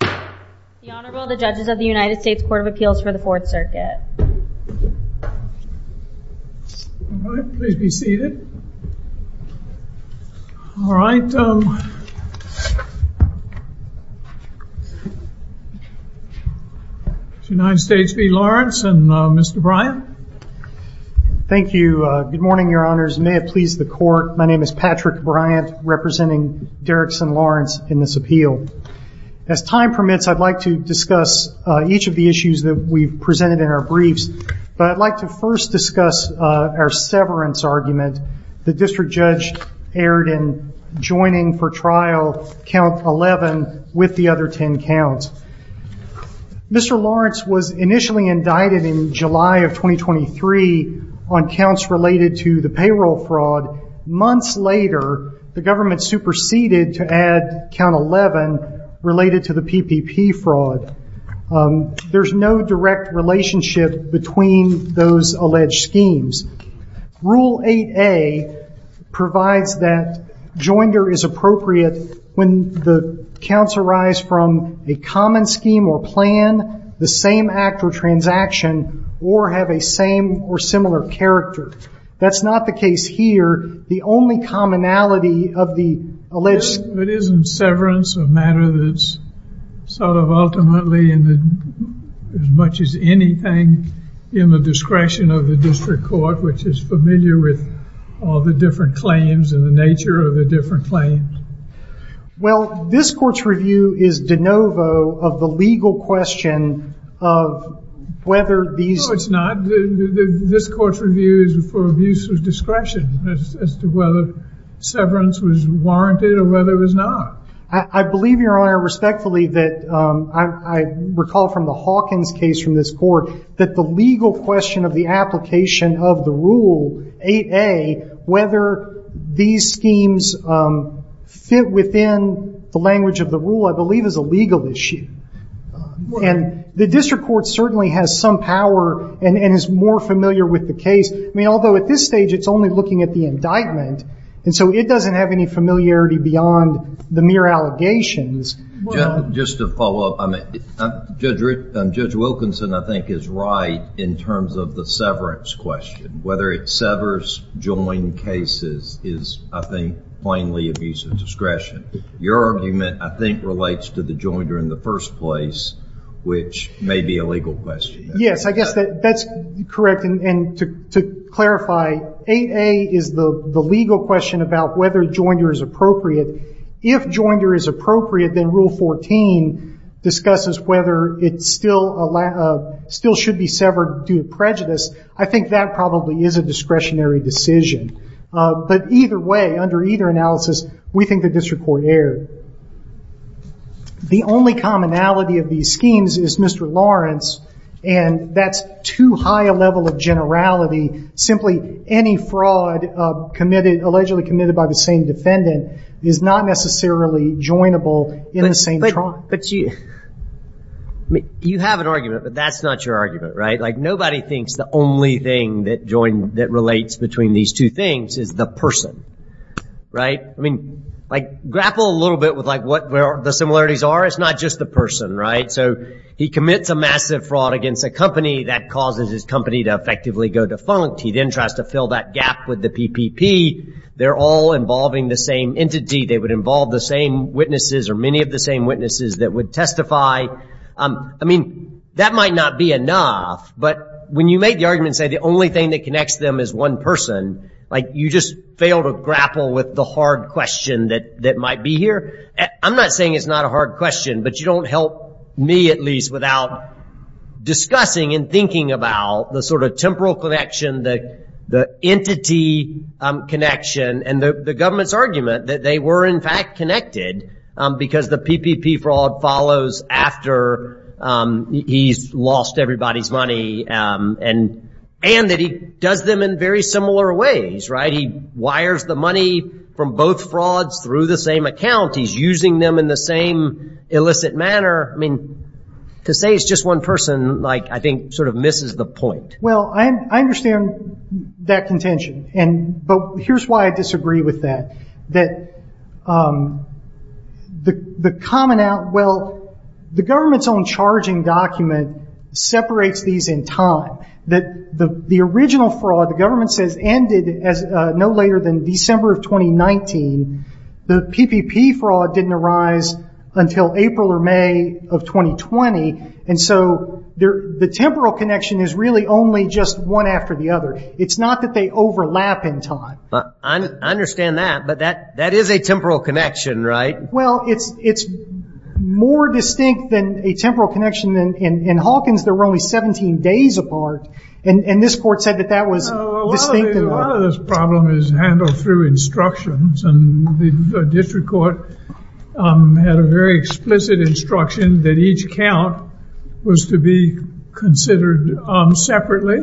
The Honorable, the Judges of the United States Court of Appeals for the Fourth Circuit. All right, please be seated. All right. United States v. Lawrence and Mr. Bryant. Thank you. Good morning, your honors. May it please the court, my name is Patrick Bryant, representing Derickson Lawrence in this appeal. As time permits, I'd like to discuss each of the issues that we've presented in our briefs. But I'd like to first discuss our severance argument. The district judge erred in joining for trial count 11 with the other 10 counts. Mr. Lawrence was initially indicted in July of 2023 on counts related to the payroll fraud. Months later, the government superseded to add count 11 related to the PPP fraud. There's no direct relationship between those alleged schemes. Rule 8A provides that joinder is appropriate when the counts arise from a common scheme or plan, the same act or transaction, or have a same or similar character. That's not the case here. The only commonality of the alleged... But isn't severance a matter that's sort of ultimately as much as anything in the discretion of the district court, which is familiar with all the different claims and the nature of the different claims? Well, this court's review is de novo of the legal question of whether these... No, it's not. This court's review is for abuse of discretion as to whether severance was warranted or whether it was not. I believe, Your Honor, respectfully that I recall from the Hawkins case from this court that the legal question of the application of the rule 8A, whether these schemes fit within the language of the rule, I believe is a legal issue. And the district court certainly has some power and is more familiar with the case. I mean, although at this stage, it's only looking at the indictment. And so it doesn't have any familiarity beyond the mere allegations. Just to follow up, Judge Wilkinson, I think, is right in terms of the severance question. Whether it severs join cases is, I think, plainly abuse of discretion. Your argument, I think, relates to the joinder in the first place, which may be a legal question. Yes, I guess that's correct. And to clarify, 8A is the legal question about whether joinder is appropriate. If joinder is appropriate, then Rule 14 discusses whether it still should be severed due to prejudice. I think that probably is a discretionary decision. But either way, under either analysis, we think the district court erred. The only commonality of these schemes is Mr. Lawrence, and that's too high a level of generality. Simply any fraud allegedly committed by the same defendant is not necessarily joinable in the same trial. But you have an argument, but that's not your argument, right? Nobody thinks the only thing that relates between these two things is the person, right? Grapple a little bit with what the similarities are. It's not just the person, right? So he commits a massive fraud against a company that causes his company to effectively go defunct. He then tries to fill that gap with the PPP. They're all involving the same entity. They would involve the same witnesses or many of the same witnesses that would testify. I mean, that might not be enough, but when you make the argument and say the only thing that connects them is one person, you just fail to grapple with the hard question that might be here. I'm not saying it's not a hard question, but you don't help me at least without discussing and thinking about the sort of temporal connection, the entity connection, and the government's argument that they were, in fact, connected because the PPP fraud follows after he's lost everybody's money and that he does them in very similar ways, right? He wires the money from both frauds through the same account. He's using them in the same illicit manner. I mean, to say it's just one person, like, I think sort of misses the point. Well, I understand that contention. Here's why I disagree with that. The government's own charging document separates these in time. The original fraud, the government says, ended no later than December of 2019. The PPP fraud didn't arise until April or May of 2020, and so the temporal connection is really only just one after the other. It's not that they overlap in time. I understand that, but that is a temporal connection, right? Well, it's more distinct than a temporal connection. In Hawkins, there were only 17 days apart, and this court said that that was distinct. A lot of this problem is handled through instructions, and the district court had a very explicit instruction that each count was to be considered separately,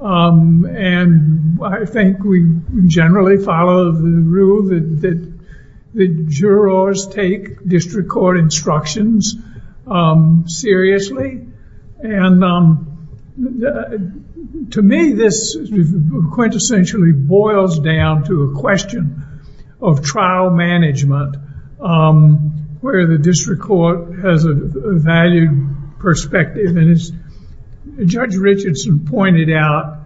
and I think we generally follow the rule that the jurors take district court instructions seriously, and to me, this quintessentially boils down to a question of trial management where the district court has a valued perspective, and as Judge Richardson pointed out,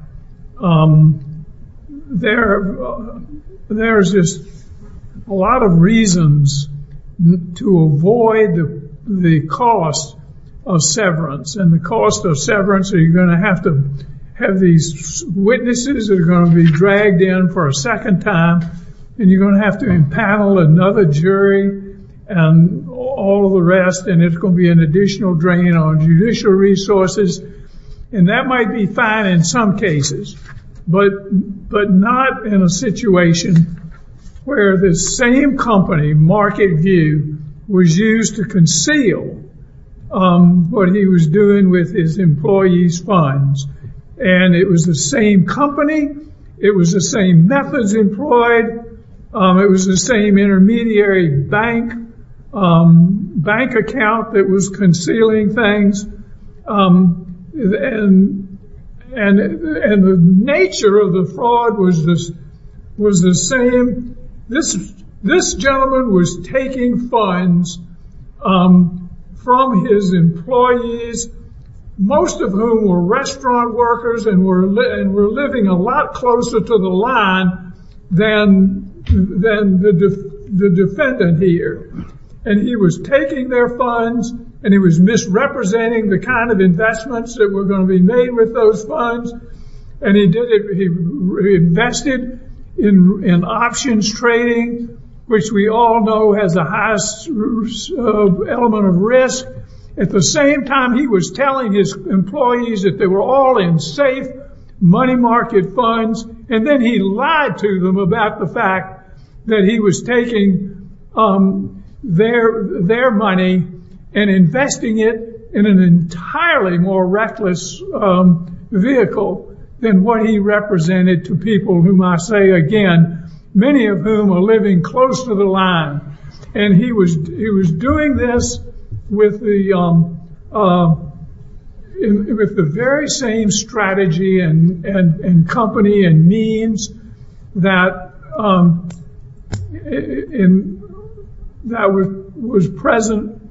there's just a lot of reasons to avoid the cost of severance, and the cost of severance, you're going to have to have these witnesses that are going to be dragged in for a second time, and you're going to have to impanel another jury and all the rest, and it's going to be an additional drain on judicial resources, and that might be fine in some cases, but not in a situation where the same company, Market View, was used to conceal what he was doing with his employees' funds, and it was the same company, it was the same methods employed, it was the same intermediary bank account that was concealing things, and the nature of the fraud was the same. This gentleman was taking funds from his employees, most of whom were restaurant workers and were living a lot closer to the line than the defendant here, and he was taking their funds, and he was misrepresenting the kind of investments that were going to be made with those funds, and he invested in options trading, which we all know has the highest element of risk. At the same time, he was telling his employees that they were all in safe money market funds, and then he lied to them about the fact that he was taking their money and investing it in an entirely more reckless vehicle than what he represented to people whom I say again, many of whom are living close to the line, and he was doing this with the very same strategy and company and means that was present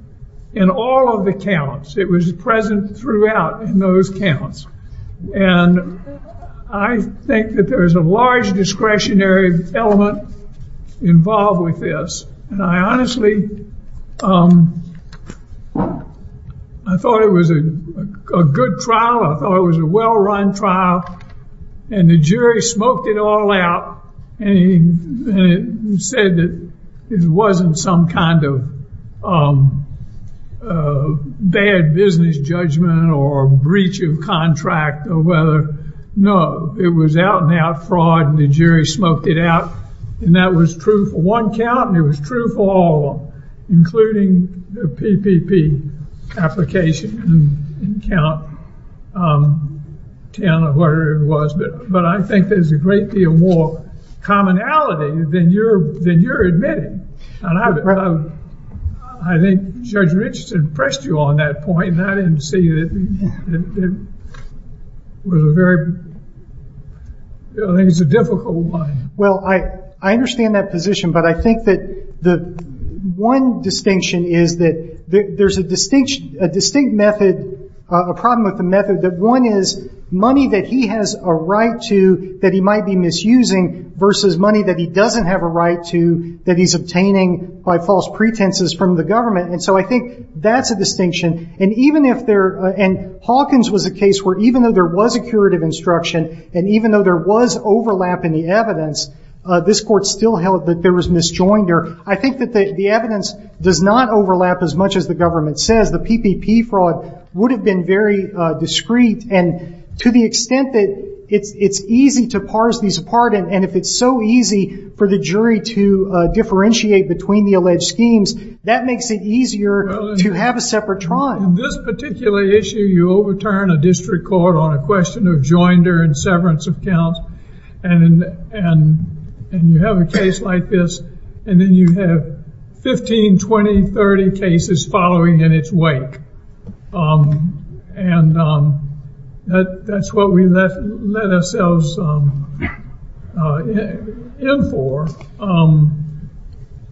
in all of the accounts. It was present throughout in those accounts, and I think that there is a large discretionary element involved with this, and I honestly thought it was a good trial. I thought it was a well-run trial, and the jury smoked it all out and said that it wasn't some kind of bad business judgment or breach of contract or whether it was out-and-out fraud, and the jury smoked it out, and that was true for one count, and it was true for all of them, including the PPP application in count 10 or whatever it was, but I think there's a great deal more commonality than you're admitting, and I think Judge Richardson pressed you on that point, and I didn't see that it was a very, I think it's a difficult one. Well, I understand that position, but I think that the one distinction is that there's a distinct method, a problem with the method, that one is money that he has a right to that he might be misusing versus money that he doesn't have a right to that he's obtaining by false pretenses from the government, and so I think that's a distinction, and Hawkins was a case where even though there was a curative instruction and even though there was overlap in the evidence, this court still held that there was misjoinder. I think that the evidence does not overlap as much as the government says. The PPP fraud would have been very discreet, and to the extent that it's easy to parse these apart, and if it's so easy for the jury to differentiate between the alleged schemes, that makes it easier to have a separate trial. In this particular issue, you overturn a district court on a question of joinder and severance of counts, and you have a case like this, and then you have 15, 20, 30 cases following in its wake, and that's what we let ourselves in for,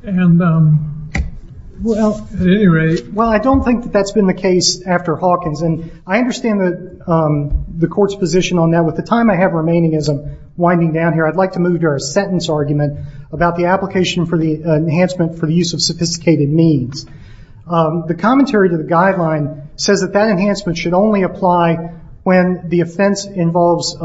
and at any rate. Well, I don't think that that's been the case after Hawkins, and I understand the court's position on that. With the time I have remaining as I'm winding down here, I'd like to move to our sentence argument about the application for the enhancement for the use of sophisticated means. The commentary to the guideline says that that enhancement should only apply when the offense involves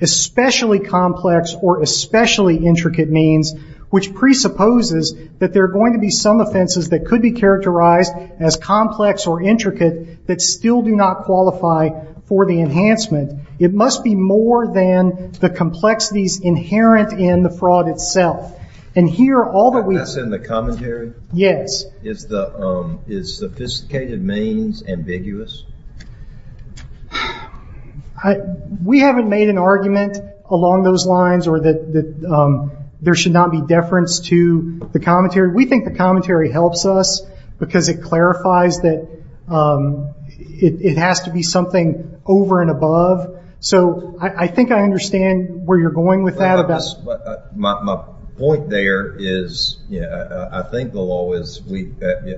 especially complex or especially intricate means, which presupposes that there are going to be some offenses that could be characterized as complex or intricate that still do not qualify for the enhancement. It must be more than the complexities inherent in the fraud itself, and here all that we've seen. That's in the commentary? Yes. Is sophisticated means ambiguous? We haven't made an argument along those lines or that there should not be deference to the commentary. We think the commentary helps us because it clarifies that it has to be something over and above, so I think I understand where you're going with that. My point there is I think the law is,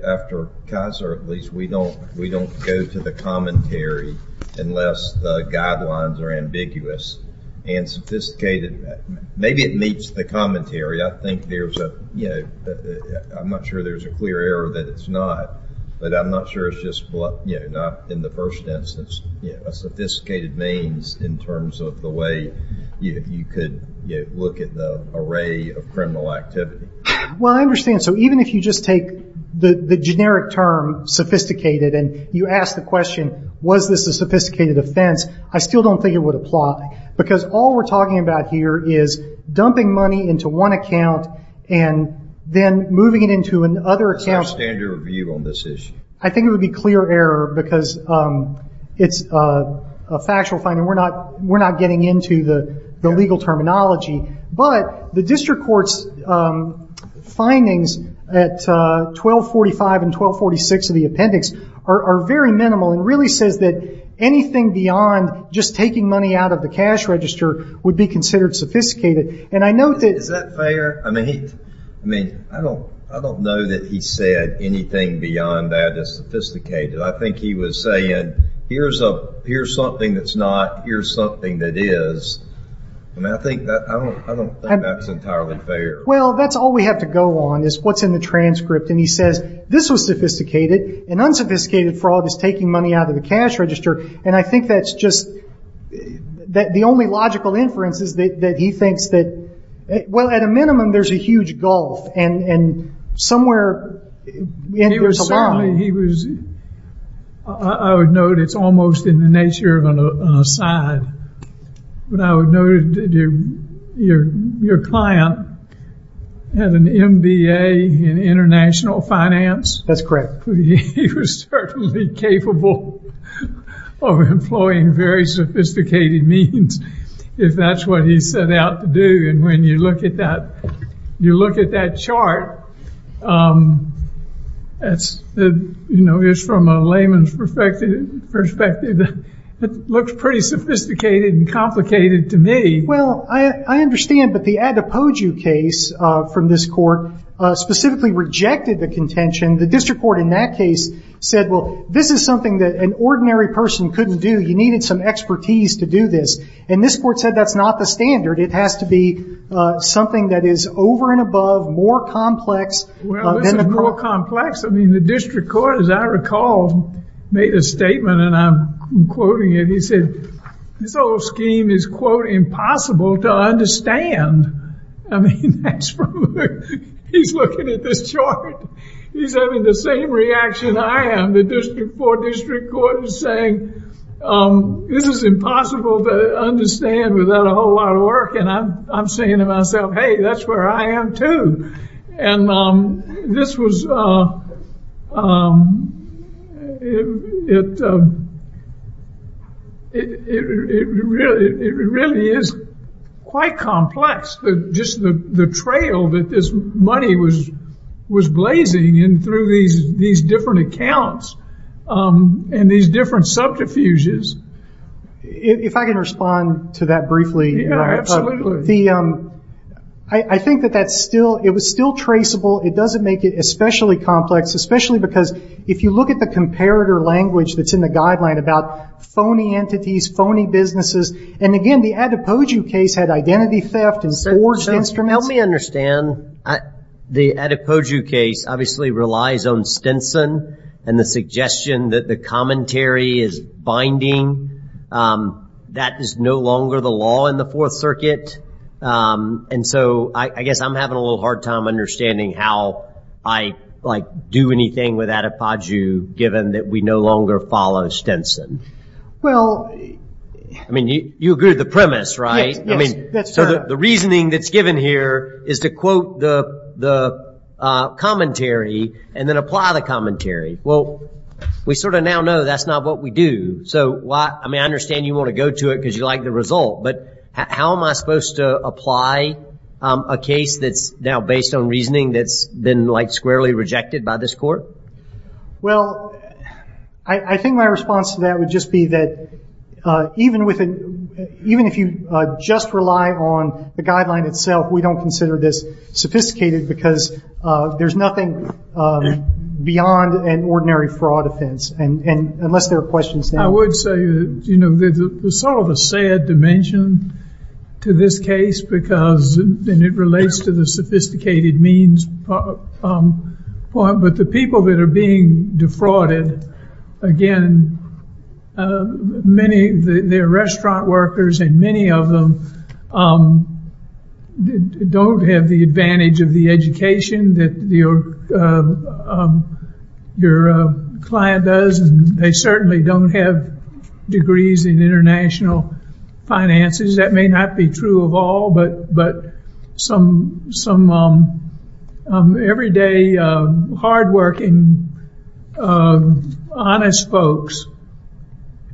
after Kaiser at least, that we don't go to the commentary unless the guidelines are ambiguous. And sophisticated, maybe it meets the commentary. I think there's a, you know, I'm not sure there's a clear error that it's not, but I'm not sure it's just not in the first instance a sophisticated means in terms of the way you could look at the array of criminal activity. Well, I understand. So even if you just take the generic term sophisticated and you ask the question was this a sophisticated offense, I still don't think it would apply, because all we're talking about here is dumping money into one account and then moving it into another account. That's my standard view on this issue. I think it would be clear error because it's a factual finding. We're not getting into the legal terminology. But the district court's findings at 1245 and 1246 of the appendix are very minimal and really says that anything beyond just taking money out of the cash register would be considered sophisticated. Is that fair? I mean, I don't know that he said anything beyond that is sophisticated. I think he was saying here's something that's not, here's something that is. I mean, I don't think that's entirely fair. Well, that's all we have to go on is what's in the transcript. And he says this was sophisticated and unsophisticated fraud is taking money out of the cash register. And I think that's just the only logical inference is that he thinks that, well, at a minimum there's a huge gulf and somewhere we end up along. I would note it's almost in the nature of an aside. But I would note your client had an MBA in international finance. That's correct. He was certainly capable of employing very sophisticated means if that's what he set out to do. And when you look at that chart, it's from a layman's perspective. It looks pretty sophisticated and complicated to me. Well, I understand. But the Adepoju case from this court specifically rejected the contention. The district court in that case said, well, this is something that an ordinary person couldn't do. You needed some expertise to do this. And this court said that's not the standard. It has to be something that is over and above, more complex. Well, this is more complex. I mean, the district court, as I recall, made a statement and I'm quoting it. He said this whole scheme is, quote, impossible to understand. I mean, he's looking at this chart. He's having the same reaction I am. The district court is saying this is impossible to understand without a whole lot of work. And I'm saying to myself, hey, that's where I am, too. And this was, it really is quite complex. Just the trail that this money was blazing in through these different accounts and these different subterfuges. If I can respond to that briefly. Yeah, absolutely. I think that that's still, it was still traceable. It doesn't make it especially complex, especially because if you look at the comparator language that's in the guideline about phony entities, phony businesses. And again, the Adepoju case had identity theft and forged instruments. Help me understand. The Adepoju case obviously relies on Stinson and the suggestion that the commentary is binding. That is no longer the law in the Fourth Circuit. And so I guess I'm having a little hard time understanding how I, like, do anything with Adepoju, given that we no longer follow Stinson. Well. I mean, you agree with the premise, right? Yes, that's correct. So the reasoning that's given here is to quote the commentary and then apply the commentary. Well, we sort of now know that's not what we do. So, I mean, I understand you want to go to it because you like the result. But how am I supposed to apply a case that's now based on reasoning that's been, like, squarely rejected by this court? Well, I think my response to that would just be that even if you just rely on the guideline itself, we don't consider this sophisticated because there's nothing beyond an ordinary fraud offense, unless there are questions there. I would say, you know, there's sort of a sad dimension to this case because it relates to the sophisticated means part. But the people that are being defrauded, again, many of their restaurant workers, and many of them don't have the advantage of the education that your client does. They certainly don't have degrees in international finances. That may not be true of all, but some everyday hardworking, honest folks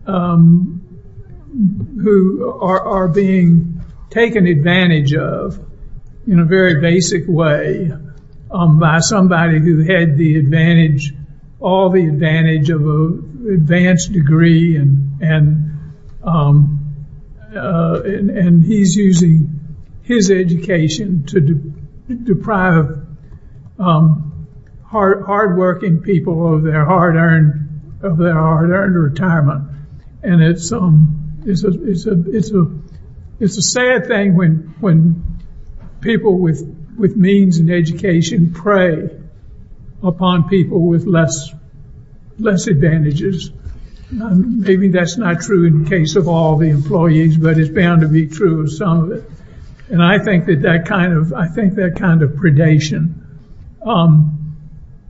who are being taken advantage of in a very basic way by somebody who had the advantage, all the advantage of an advanced degree, and he's using his education to deprive hardworking people of their hard-earned retirement. And it's a sad thing when people with means in education prey upon people with less advantages. Maybe that's not true in the case of all the employees, but it's bound to be true of some of it. And I think that that kind of predation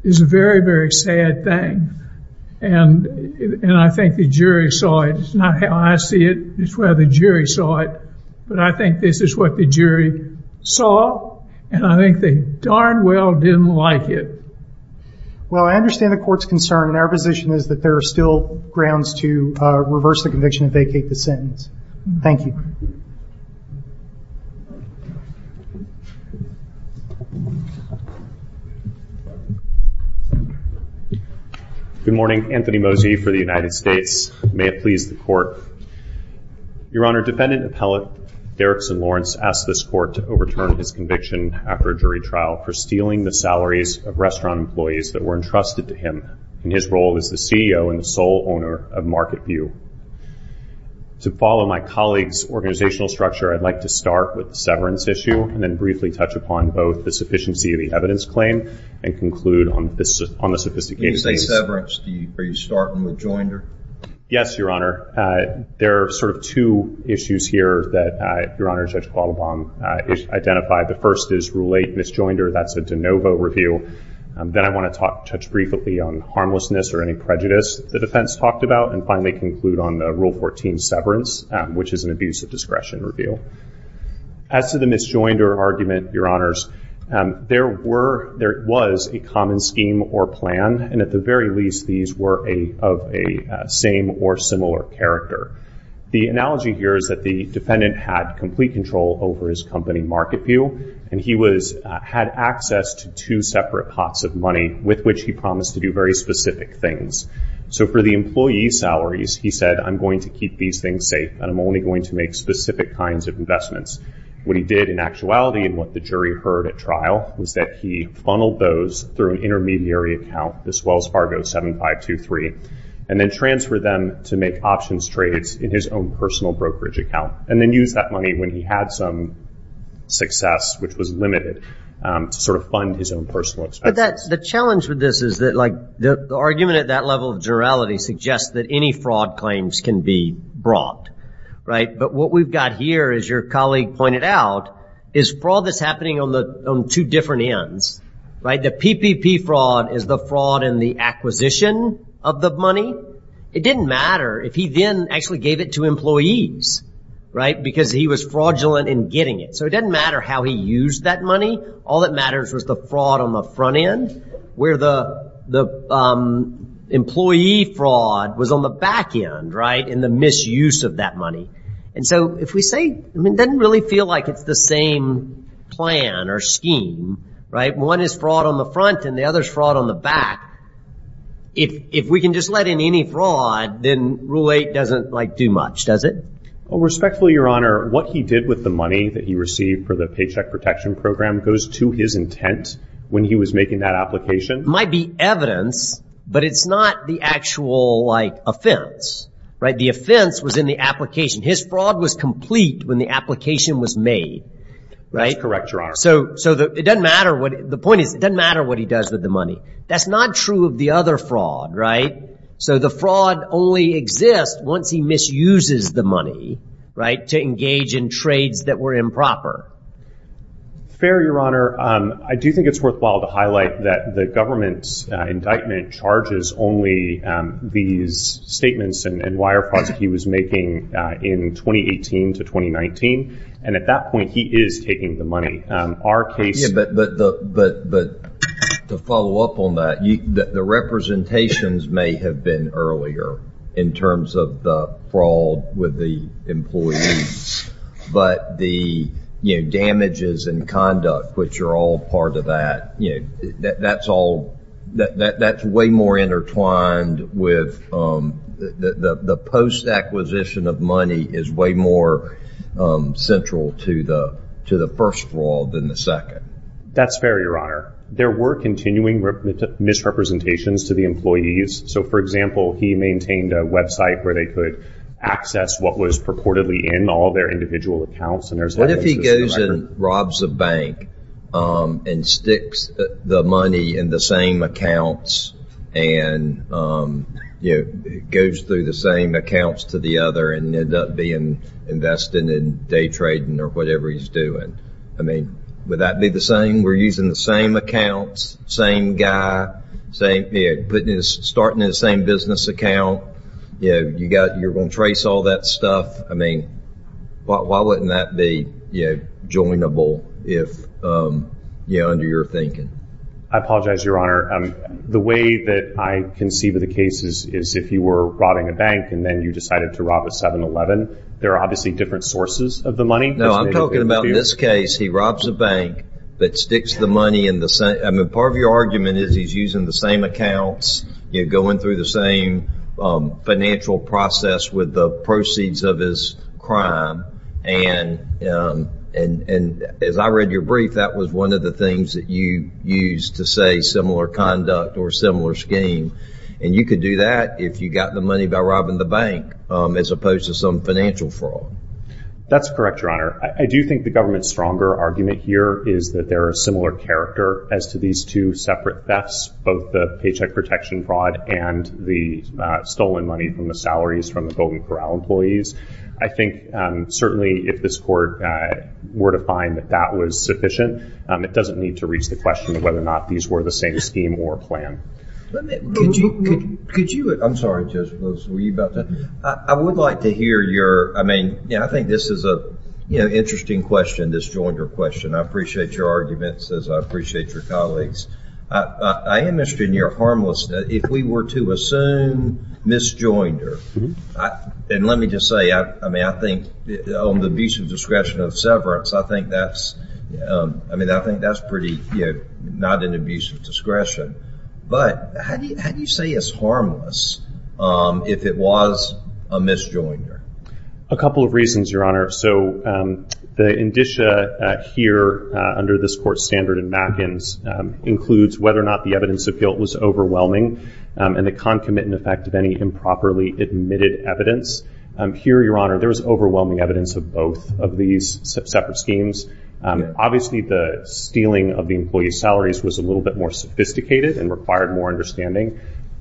is a very, very sad thing. And I think the jury saw it. It's not how I see it. It's where the jury saw it. But I think this is what the jury saw, and I think they darn well didn't like it. Well, I understand the court's concern, and our position is that there are still grounds to reverse the conviction and vacate the sentence. Thank you. Good morning. Anthony Mosey for the United States. May it please the Court. Your Honor, Defendant Appellate Derrickson Lawrence asked this Court to overturn his conviction after a jury trial for stealing the salaries of restaurant employees that were entrusted to him in his role as the CEO and sole owner of Market View. To follow my colleague's organizational structure, I'd like to start with the severance issue and then briefly touch upon both the sufficiency of the evidence claim and conclude on the sophisticated case. When you say severance, are you starting with Joinder? Yes, Your Honor. There are sort of two issues here that Your Honor, Judge Quattlebaum identified. The first is Rule 8, Miss Joinder. That's a de novo review. Then I want to touch briefly on harmlessness or any prejudice the defense talked about. And finally conclude on Rule 14, severance, which is an abuse of discretion review. As to the Miss Joinder argument, Your Honors, there was a common scheme or plan, and at the very least, these were of a same or similar character. The analogy here is that the defendant had complete control over his company, Market View, and he had access to two separate pots of money with which he promised to do very specific things. So for the employee's salaries, he said, I'm going to keep these things safe, and I'm only going to make specific kinds of investments. What he did in actuality and what the jury heard at trial was that he funneled those through an intermediary account, this Wells Fargo 7523, and then transferred them to make options trades in his own personal brokerage account and then used that money when he had some success, which was limited, to sort of fund his own personal expenses. The challenge with this is the argument at that level of generality suggests that any fraud claims can be brought. But what we've got here, as your colleague pointed out, is fraud that's happening on two different ends. The PPP fraud is the fraud in the acquisition of the money. It didn't matter if he then actually gave it to employees because he was fraudulent in getting it. So it didn't matter how he used that money. All that matters was the fraud on the front end where the employee fraud was on the back end, right, and the misuse of that money. And so if we say it doesn't really feel like it's the same plan or scheme, right? One is fraud on the front and the other is fraud on the back. If we can just let in any fraud, then Rule 8 doesn't, like, do much, does it? Well, respectfully, your Honor, what he did with the money that he received for the Paycheck Protection Program goes to his intent when he was making that application. It might be evidence, but it's not the actual, like, offense, right? The offense was in the application. His fraud was complete when the application was made, right? That's correct, your Honor. So the point is it doesn't matter what he does with the money. That's not true of the other fraud, right? So the fraud only exists once he misuses the money, right, to engage in trades that were improper. Fair, your Honor. I do think it's worthwhile to highlight that the government's indictment charges only these statements and wire frauds that he was making in 2018 to 2019. And at that point, he is taking the money. Yeah, but to follow up on that, the representations may have been earlier in terms of the fraud with the employees. But the, you know, damages and conduct, which are all part of that, you know, that's all, that's way more intertwined with, the post-acquisition of money is way more central to the first fraud than the second. That's fair, your Honor. There were continuing misrepresentations to the employees. So, for example, he maintained a website where they could access what was purportedly in all their individual accounts. What if he goes and robs a bank and sticks the money in the same accounts and, you know, goes through the same accounts to the other and ended up being invested in day trading or whatever he's doing? I mean, would that be the same? We're using the same accounts, same guy, starting in the same business account. You know, you're going to trace all that stuff. I mean, why wouldn't that be, you know, joinable if, you know, under your thinking? I apologize, your Honor. The way that I conceive of the case is if you were robbing a bank and then you decided to rob a 7-Eleven, there are obviously different sources of the money. No, I'm talking about in this case, he robs a bank but sticks the money in the same, I mean, part of your argument is he's using the same accounts, you know, going through the same financial process with the proceeds of his crime. And as I read your brief, that was one of the things that you used to say similar conduct or similar scheme. And you could do that if you got the money by robbing the bank as opposed to some financial fraud. That's correct, your Honor. I do think the government's stronger argument here is that there are similar character as to these two separate thefts, both the paycheck protection fraud and the stolen money from the salaries from the Golden Corral employees. I think, certainly, if this court were to find that that was sufficient, it doesn't need to reach the question of whether or not these were the same scheme or plan. Could you, I'm sorry, Judge Rose, were you about to? I would like to hear your, I mean, I think this is an interesting question, this Joinder question. I appreciate your arguments as I appreciate your colleagues. I am interested in your harmlessness. If we were to assume misjoinder, and let me just say, I mean, I think on the abuse of discretion of severance, I think that's pretty, you know, not an abuse of discretion. But how do you say it's harmless if it was a misjoinder? A couple of reasons, your Honor. So the indicia here under this court standard in Mackens includes whether or not the evidence of guilt was overwhelming and the concomitant effect of any improperly admitted evidence. Here, your Honor, there was overwhelming evidence of both of these separate schemes. Obviously, the stealing of the employee's salaries was a little bit more sophisticated and required more understanding,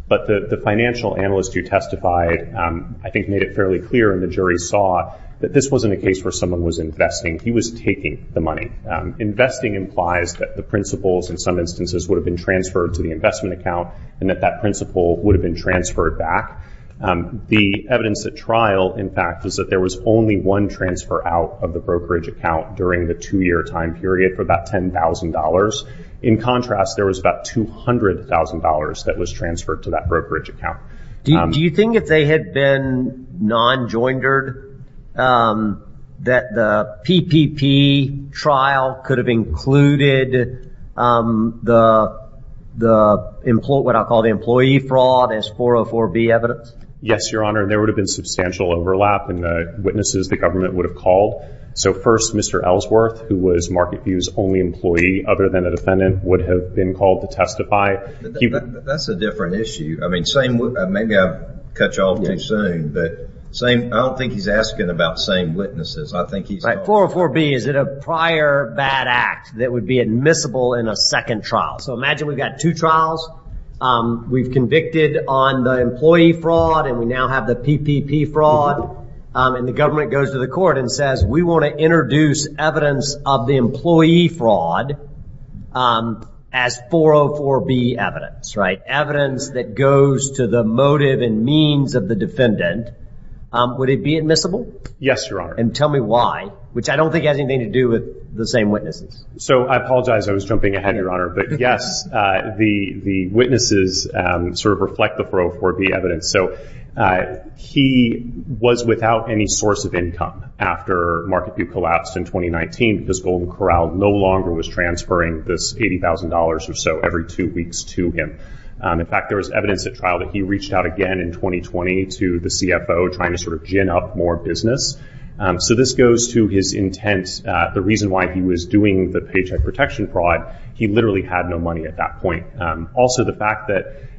but the financial analyst who testified, I think, made it fairly clear, and the jury saw, that this wasn't a case where someone was investing. He was taking the money. Investing implies that the principles, in some instances, would have been transferred to the investment account and that that principle would have been transferred back. The evidence at trial, in fact, is that there was only one transfer out of the brokerage account during the two-year time period for about $10,000. In contrast, there was about $200,000 that was transferred to that brokerage account. Do you think if they had been non-joindered that the PPP trial could have included what I call the employee fraud as 404B evidence? Yes, your Honor. There would have been substantial overlap in the witnesses the government would have called. So first, Mr. Ellsworth, who was Marketview's only employee other than a defendant, would have been called to testify. That's a different issue. Maybe I've cut you off too soon, but I don't think he's asking about same witnesses. 404B is a prior bad act that would be admissible in a second trial. So imagine we've got two trials. We've convicted on the employee fraud and we now have the PPP fraud, and the government goes to the court and says, we want to introduce evidence of the employee fraud as 404B evidence, right? Evidence that goes to the motive and means of the defendant. Would it be admissible? Yes, your Honor. And tell me why, which I don't think has anything to do with the same witnesses. So I apologize. I was jumping ahead, your Honor. But yes, the witnesses sort of reflect the 404B evidence. So he was without any source of income after Marketview collapsed in 2019 because Golden Corral no longer was transferring this $80,000 or so every two weeks to him. In fact, there was evidence at trial that he reached out again in 2020 to the CFO, trying to sort of gin up more business. So this goes to his intent. The reason why he was doing the paycheck protection fraud, he literally had no money at that point. Also, the fact that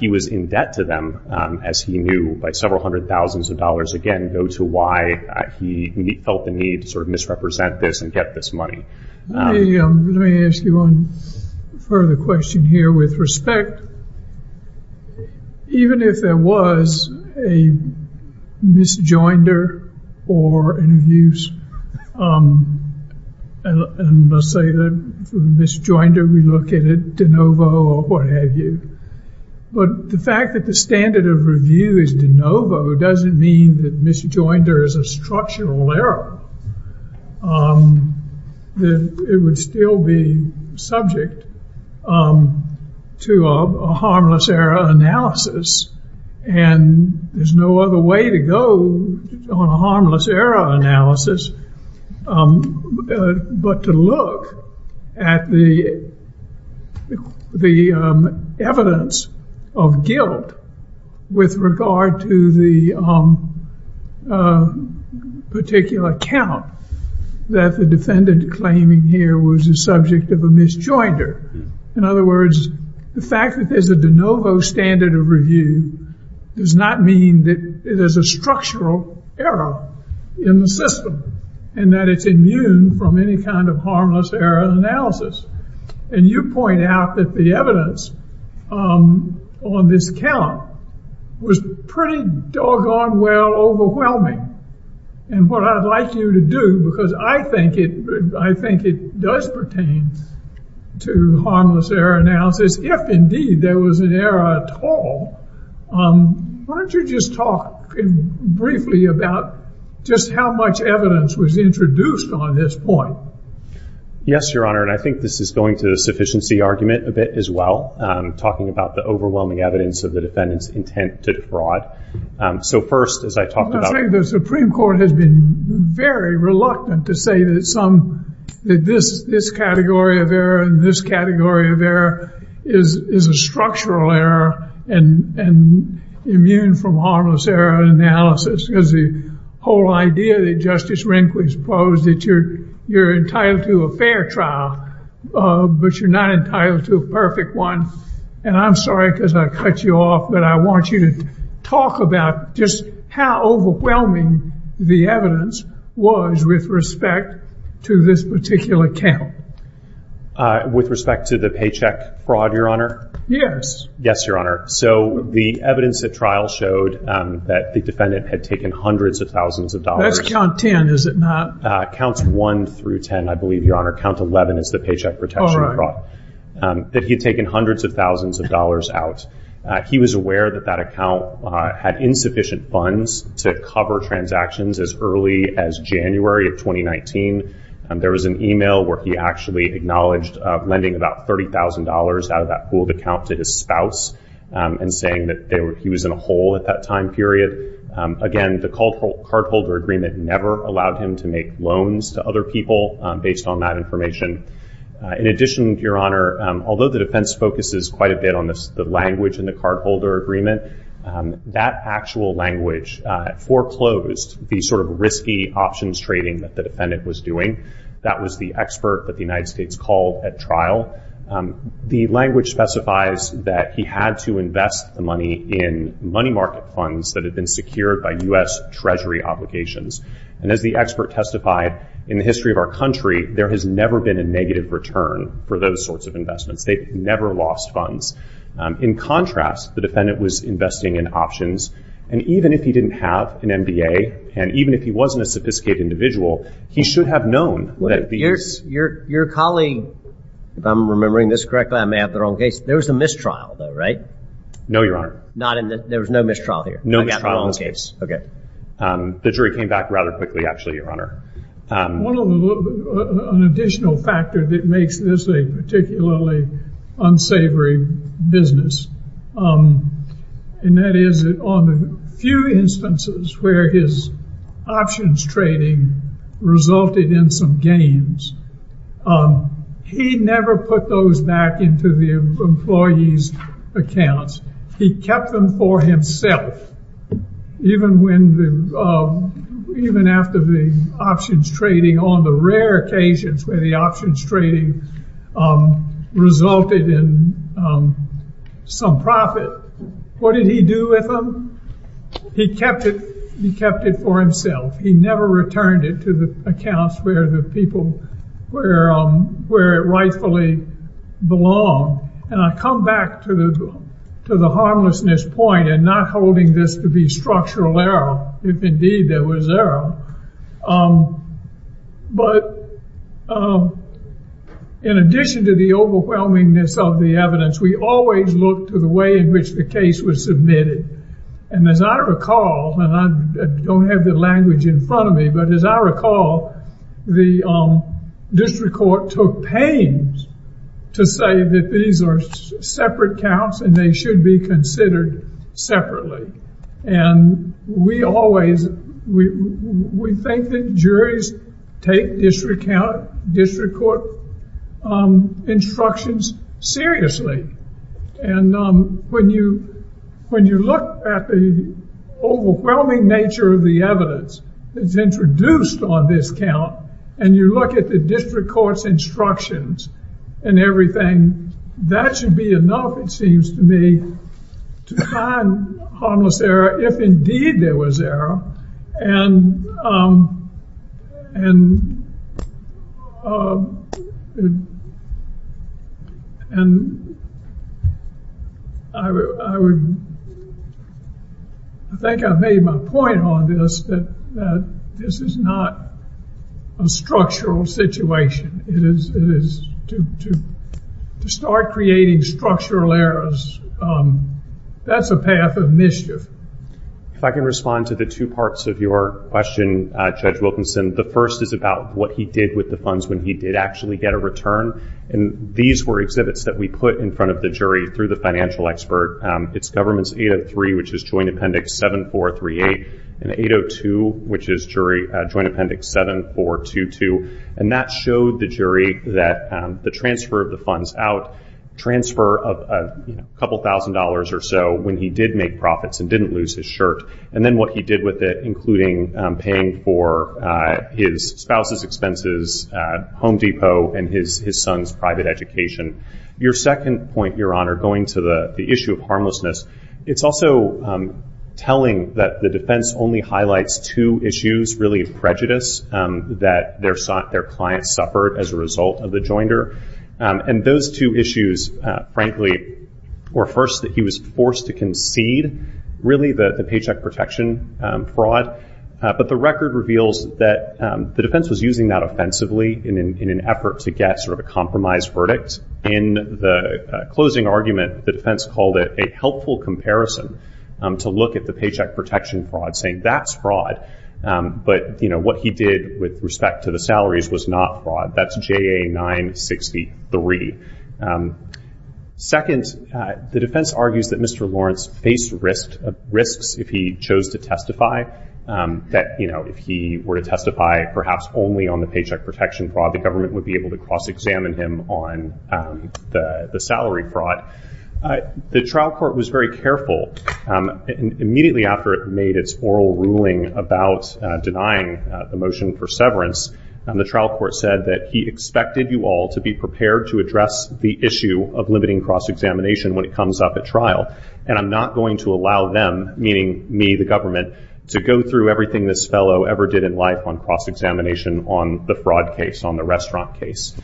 he was in debt to them, as he knew by several hundred thousands of dollars, again, go to why he felt the need to sort of misrepresent this and get this money. Let me ask you one further question here with respect. Even if there was a misjoinder or abuse, and let's say the misjoinder, we look at it de novo or what have you. But the fact that the standard of review is de novo doesn't mean that misjoinder is a structural error. It would still be subject to a harmless error analysis. And there's no other way to go on a harmless error analysis but to look at the evidence of guilt with regard to the particular account that the defendant claiming here was the subject of a misjoinder. In other words, the fact that there's a de novo standard of review does not mean that it is a structural error in the system and that it's immune from any kind of harmless error analysis. And you point out that the evidence on this account was pretty doggone well overwhelming. And what I'd like you to do, because I think it does pertain to harmless error analysis, if indeed there was an error at all, why don't you just talk briefly about just how much evidence was introduced on this point? Yes, Your Honor, and I think this is going to the sufficiency argument a bit as well, talking about the overwhelming evidence of the defendant's intent to defraud. I think the Supreme Court has been very reluctant to say that this category of error and this category of error is a structural error and immune from harmless error analysis because the whole idea that Justice Rehnquist posed that you're entitled to a fair trial, but you're not entitled to a perfect one. And I'm sorry because I cut you off, but I want you to talk about just how overwhelming the evidence was with respect to this particular account. With respect to the paycheck fraud, Your Honor? Yes. Yes, Your Honor. So the evidence at trial showed that the defendant had taken hundreds of thousands of dollars. That's count 10, is it not? Counts 1 through 10, I believe, Your Honor. Count 11 is the paycheck protection fraud. That he had taken hundreds of thousands of dollars out. He was aware that that account had insufficient funds to cover transactions as early as January of 2019. There was an email where he actually acknowledged lending about $30,000 out of that pooled account to his spouse and saying that he was in a hole at that time period. Again, the cardholder agreement never allowed him to make loans to other people based on that information. In addition, Your Honor, although the defense focuses quite a bit on the language in the cardholder agreement, that actual language foreclosed the sort of risky options trading that the defendant was doing. That was the expert that the United States called at trial. The language specifies that he had to invest the money in money market funds that had been secured by U.S. Treasury obligations. And as the expert testified, in the history of our country, there has never been a negative return for those sorts of investments. They've never lost funds. In contrast, the defendant was investing in options. And even if he didn't have an MBA, and even if he wasn't a sophisticated individual, he should have known that these- Your colleague, if I'm remembering this correctly, I may have the wrong case. There was a mistrial, though, right? No, Your Honor. There was no mistrial here? No mistrial in this case. Okay. The jury came back rather quickly, actually, Your Honor. An additional factor that makes this a particularly unsavory business, and that is on the few instances where his options trading resulted in some gains, he never put those back into the employee's accounts. He kept them for himself, even after the options trading on the rare occasions where the options trading resulted in some profit. What did he do with them? He kept it for himself. He never returned it to the accounts where it rightfully belonged. And I come back to the harmlessness point and not holding this to be structural error, if indeed there was error. But in addition to the overwhelmingness of the evidence, we always look to the way in which the case was submitted. And as I recall, and I don't have the language in front of me, but as I recall, the district court took pains to say that these are separate counts and they should be considered separately. And we always, we think that juries take district court instructions seriously. And when you look at the overwhelming nature of the evidence that's introduced on this count, and you look at the district court's instructions and everything, that should be enough, it seems to me, to find harmless error, if indeed there was error. And I think I've made my point on this, that this is not a structural situation. It is to start creating structural errors, that's a path of mischief. If I can respond to the two parts of your question, Judge Wilkinson. The first is about what he did with the funds when he did actually get a return. And these were exhibits that we put in front of the jury through the financial expert. It's Governments 803, which is Joint Appendix 7438, and 802, which is Joint Appendix 7422. And that showed the jury that the transfer of the funds out, transfer of a couple thousand dollars or so when he did make profits and didn't lose his shirt, and then what he did with it, including paying for his spouse's expenses, Home Depot, and his son's private education. Your second point, Your Honor, going to the issue of harmlessness, it's also telling that the defense only highlights two issues, really, of prejudice, that their client suffered as a result of the joinder. And those two issues, frankly, were first that he was forced to concede, really, the paycheck protection fraud. But the record reveals that the defense was using that offensively in an effort to get sort of a compromise verdict. In the closing argument, the defense called it a helpful comparison to look at the paycheck protection fraud, saying that's fraud, but what he did with respect to the salaries was not fraud. That's JA 963. Second, the defense argues that Mr. Lawrence faced risks if he chose to testify, that if he were to testify perhaps only on the paycheck protection fraud, the government would be able to cross-examine him on the salary fraud. The trial court was very careful. Immediately after it made its oral ruling about denying the motion for severance, the trial court said that he expected you all to be prepared to address the issue of limiting cross-examination when it comes up at trial, and I'm not going to allow them, meaning me, the government, to go through everything this fellow ever did in life on cross-examination on the fraud case, on the restaurant case.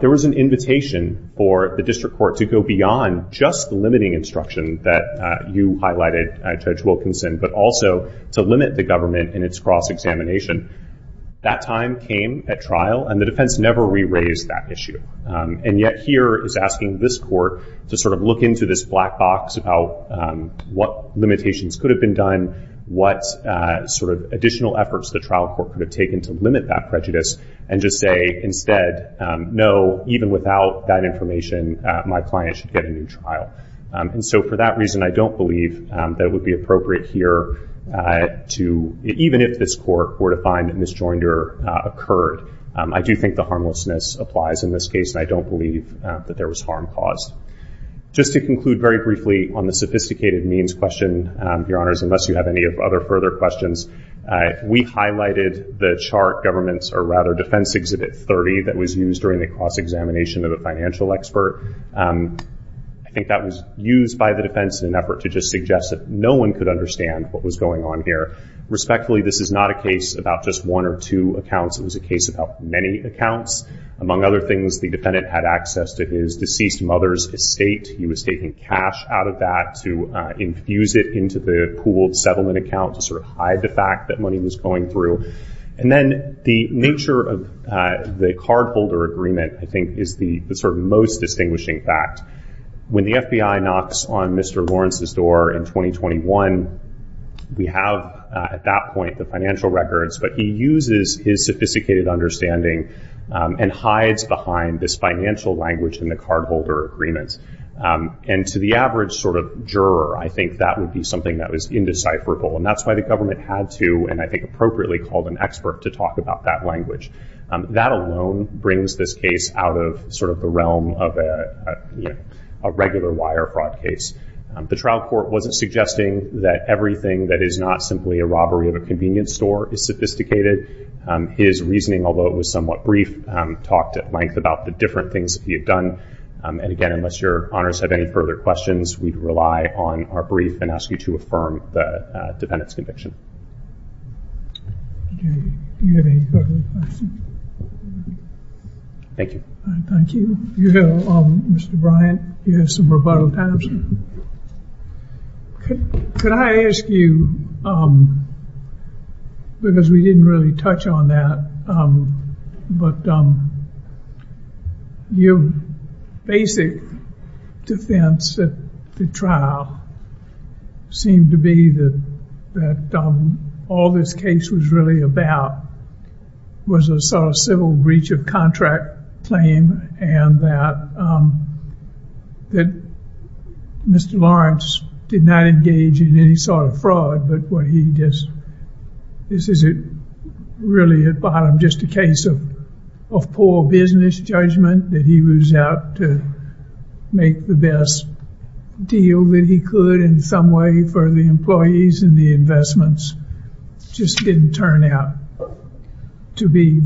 There was an invitation for the district court to go beyond just limiting instruction that you highlighted, Judge Wilkinson, but also to limit the government in its cross-examination. That time came at trial, and the defense never re-raised that issue, and yet here is asking this court to sort of look into this black box about what limitations could have been done, what sort of additional efforts the trial court could have taken to limit that prejudice, and just say instead, no, even without that information, my client should get a new trial. And so for that reason, I don't believe that it would be appropriate here to, even if this court were to find a misjoinder occurred, I do think the harmlessness applies in this case, and I don't believe that there was harm caused. Just to conclude very briefly on the sophisticated means question, Your Honors, unless you have any other further questions, we highlighted the chart government's, or rather defense exhibit 30 that was used during the cross-examination of a financial expert. I think that was used by the defense in an effort to just suggest that no one could understand what was going on here. Respectfully, this is not a case about just one or two accounts. It was a case about many accounts. Among other things, the defendant had access to his deceased mother's estate. He was taking cash out of that to infuse it into the pooled settlement account to sort of hide the fact that money was going through. And then the nature of the cardholder agreement, I think, is the sort of most distinguishing fact. When the FBI knocks on Mr. Lawrence's door in 2021, we have at that point the financial records, but he uses his sophisticated understanding and hides behind this financial language in the cardholder agreement. And to the average sort of juror, I think that would be something that was indecipherable, and that's why the government had to, and I think appropriately, call an expert to talk about that language. That alone brings this case out of sort of the realm of a regular wire fraud case. The trial court wasn't suggesting that everything that is not simply a robbery of a convenience store is sophisticated. His reasoning, although it was somewhat brief, talked at length about the different things that he had done. And again, unless your honors have any further questions, we'd rely on our brief and ask you to affirm the defendant's conviction. Do you have any further questions? Thank you. Thank you. Mr. Bryant, you have some rebuttal time. Could I ask you, because we didn't really touch on that, but your basic defense at the trial seemed to be that all this case was really about was a sort of civil breach of contract claim and that Mr. Lawrence did not engage in any sort of fraud, but what he did, this is really at the bottom just a case of poor business judgment, that he was out to make the best deal that he could in some way for the employees, and the investments just didn't turn out to be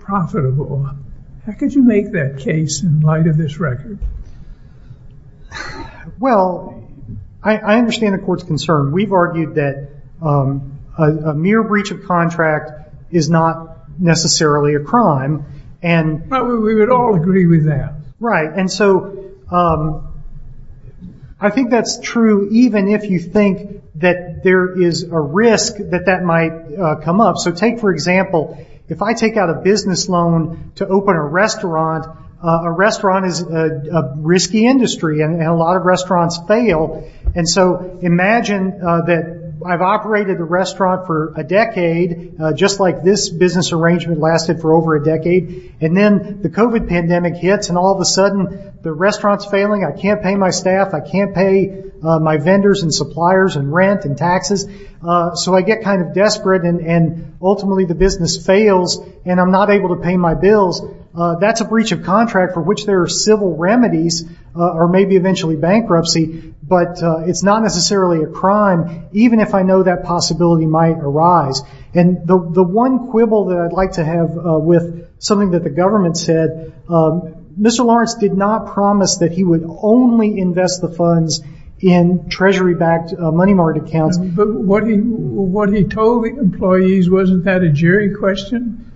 profitable. How could you make that case in light of this record? Well, I understand the court's concern. We've argued that a mere breach of contract is not necessarily a crime. We would all agree with that. Right, and so I think that's true even if you think that there is a risk that that might come up. So take, for example, if I take out a business loan to open a restaurant, a restaurant is a risky industry and a lot of restaurants fail, and so imagine that I've operated a restaurant for a decade, just like this business arrangement lasted for over a decade, and then the COVID pandemic hits and all of a sudden the restaurant's failing, I can't pay my staff, I can't pay my vendors and suppliers and rent and taxes, so I get kind of desperate and ultimately the business fails and I'm not able to pay my bills. That's a breach of contract for which there are civil remedies or maybe eventually bankruptcy, but it's not necessarily a crime even if I know that possibility might arise. And the one quibble that I'd like to have with something that the government said, Mr. Lawrence did not promise that he would only invest the funds in treasury-backed money market accounts. But what he told the employees, wasn't that a jury question?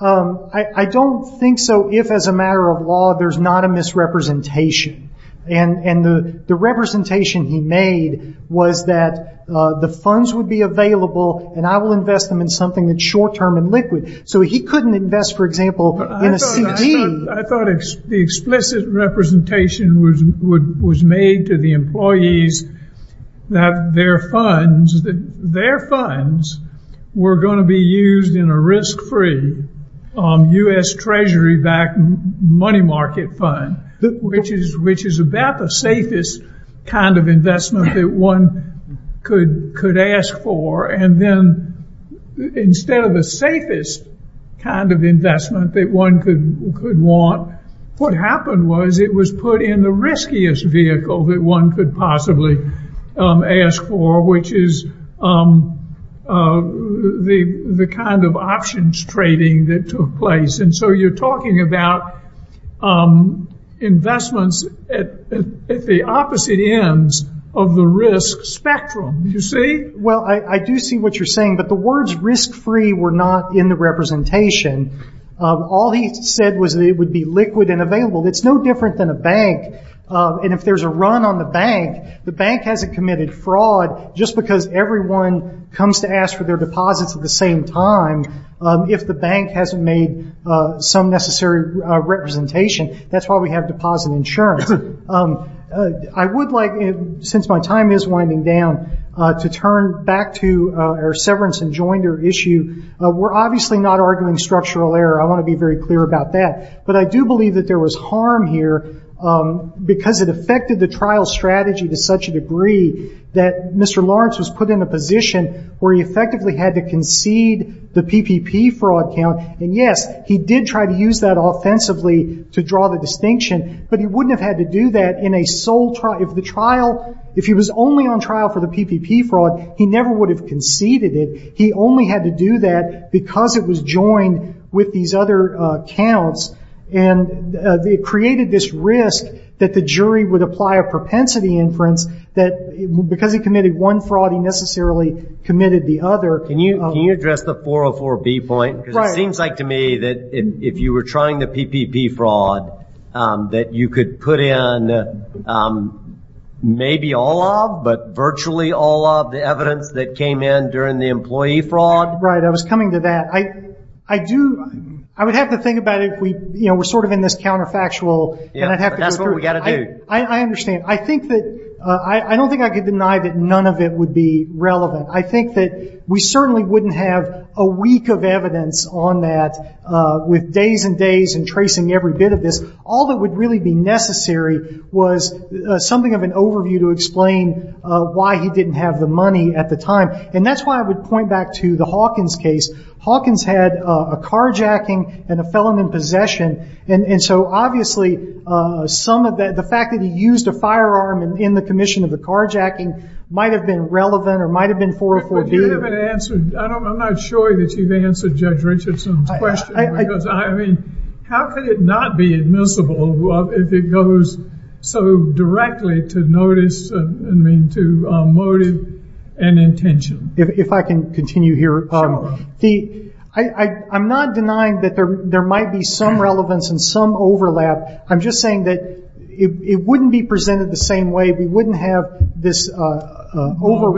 I don't think so if as a matter of law there's not a misrepresentation, and the representation he made was that the funds would be available and I will invest them in something that's short-term and liquid. So he couldn't invest, for example, in a CD. I thought the explicit representation was made to the employees that their funds were going to be used in a risk-free U.S. treasury-backed money market fund, which is about the safest kind of investment that one could ask for, and then instead of the safest kind of investment that one could want, what happened was it was put in the riskiest vehicle that one could possibly ask for, which is the kind of options trading that took place. And so you're talking about investments at the opposite ends of the risk spectrum, you see? Well, I do see what you're saying, but the words risk-free were not in the representation. All he said was that it would be liquid and available. It's no different than a bank, and if there's a run on the bank, the bank hasn't committed fraud. Just because everyone comes to ask for their deposits at the same time, if the bank hasn't made some necessary representation, that's why we have deposit insurance. I would like, since my time is winding down, to turn back to our severance and joinder issue. We're obviously not arguing structural error. I want to be very clear about that. But I do believe that there was harm here because it affected the trial strategy to such a degree that Mr. Lawrence was put in a position where he effectively had to concede the PPP fraud count, and yes, he did try to use that offensively to draw the distinction, but he wouldn't have had to do that if he was only on trial for the PPP fraud. He never would have conceded it. He only had to do that because it was joined with these other counts, and it created this risk that the jury would apply a propensity inference that, because he committed one fraud, he necessarily committed the other. Can you address the 404B point? Right. It seems like to me that if you were trying the PPP fraud, that you could put in maybe all of, but virtually all of, the evidence that came in during the employee fraud. Right. I was coming to that. I would have to think about it if we're sort of in this counterfactual. That's what we've got to do. I understand. I don't think I could deny that none of it would be relevant. I think that we certainly wouldn't have a week of evidence on that, with days and days and tracing every bit of this. All that would really be necessary was something of an overview to explain why he didn't have the money at the time. And that's why I would point back to the Hawkins case. Hawkins had a carjacking and a felon in possession, and so obviously the fact that he used a firearm in the commission of the carjacking might have been relevant or might have been 404B. But you haven't answered. I'm not sure that you've answered Judge Richardson's question. Because, I mean, how could it not be admissible if it goes so directly to motive and intention? If I can continue here. Sure. I'm not denying that there might be some relevance and some overlap. I'm just saying that it wouldn't be presented the same way. We wouldn't have this overview.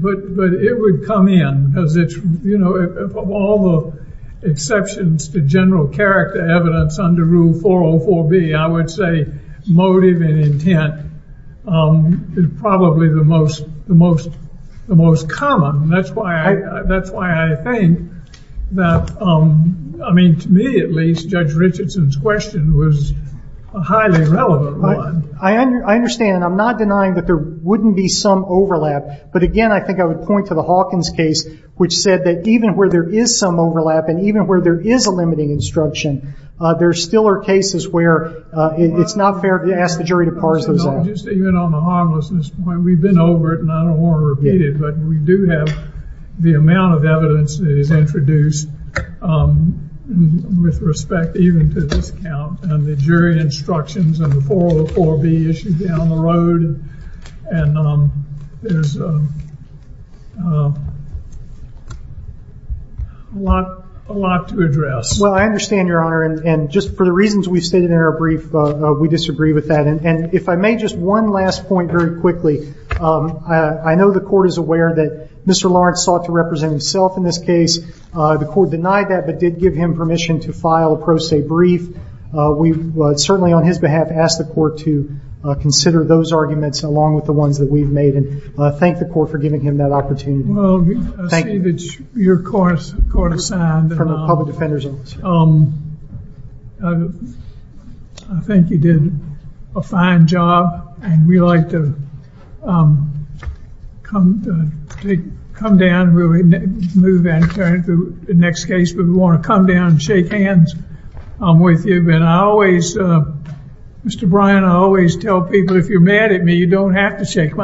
But it would come in. Because of all the exceptions to general character evidence under Rule 404B, I would say motive and intent is probably the most common. That's why I think that, I mean, to me at least, Judge Richardson's question was a highly relevant one. I understand, and I'm not denying that there wouldn't be some overlap. But, again, I think I would point to the Hawkins case, which said that even where there is some overlap and even where there is a limiting instruction, there still are cases where it's not fair to ask the jury to parse those out. Even on the harmlessness point, we've been over it, and I don't want to repeat it, but we do have the amount of evidence that is introduced with respect even to this count, and the jury instructions under 404B issued down the road, and there's a lot to address. Well, I understand, Your Honor, and just for the reasons we stated in our brief, we disagree with that. And if I may, just one last point very quickly. I know the Court is aware that Mr. Lawrence sought to represent himself in this case. The Court denied that but did give him permission to file a pro se brief. We certainly, on his behalf, ask the Court to consider those arguments along with the ones that we've made and thank the Court for giving him that opportunity. Well, Steve, it's your Court of Assignment. From the Public Defender's Office. I think you did a fine job, and we'd like to come down and move on to the next case. We want to come down and shake hands with you. But I always, Mr. Bryan, I always tell people, if you're mad at me, you don't have to shake my hand.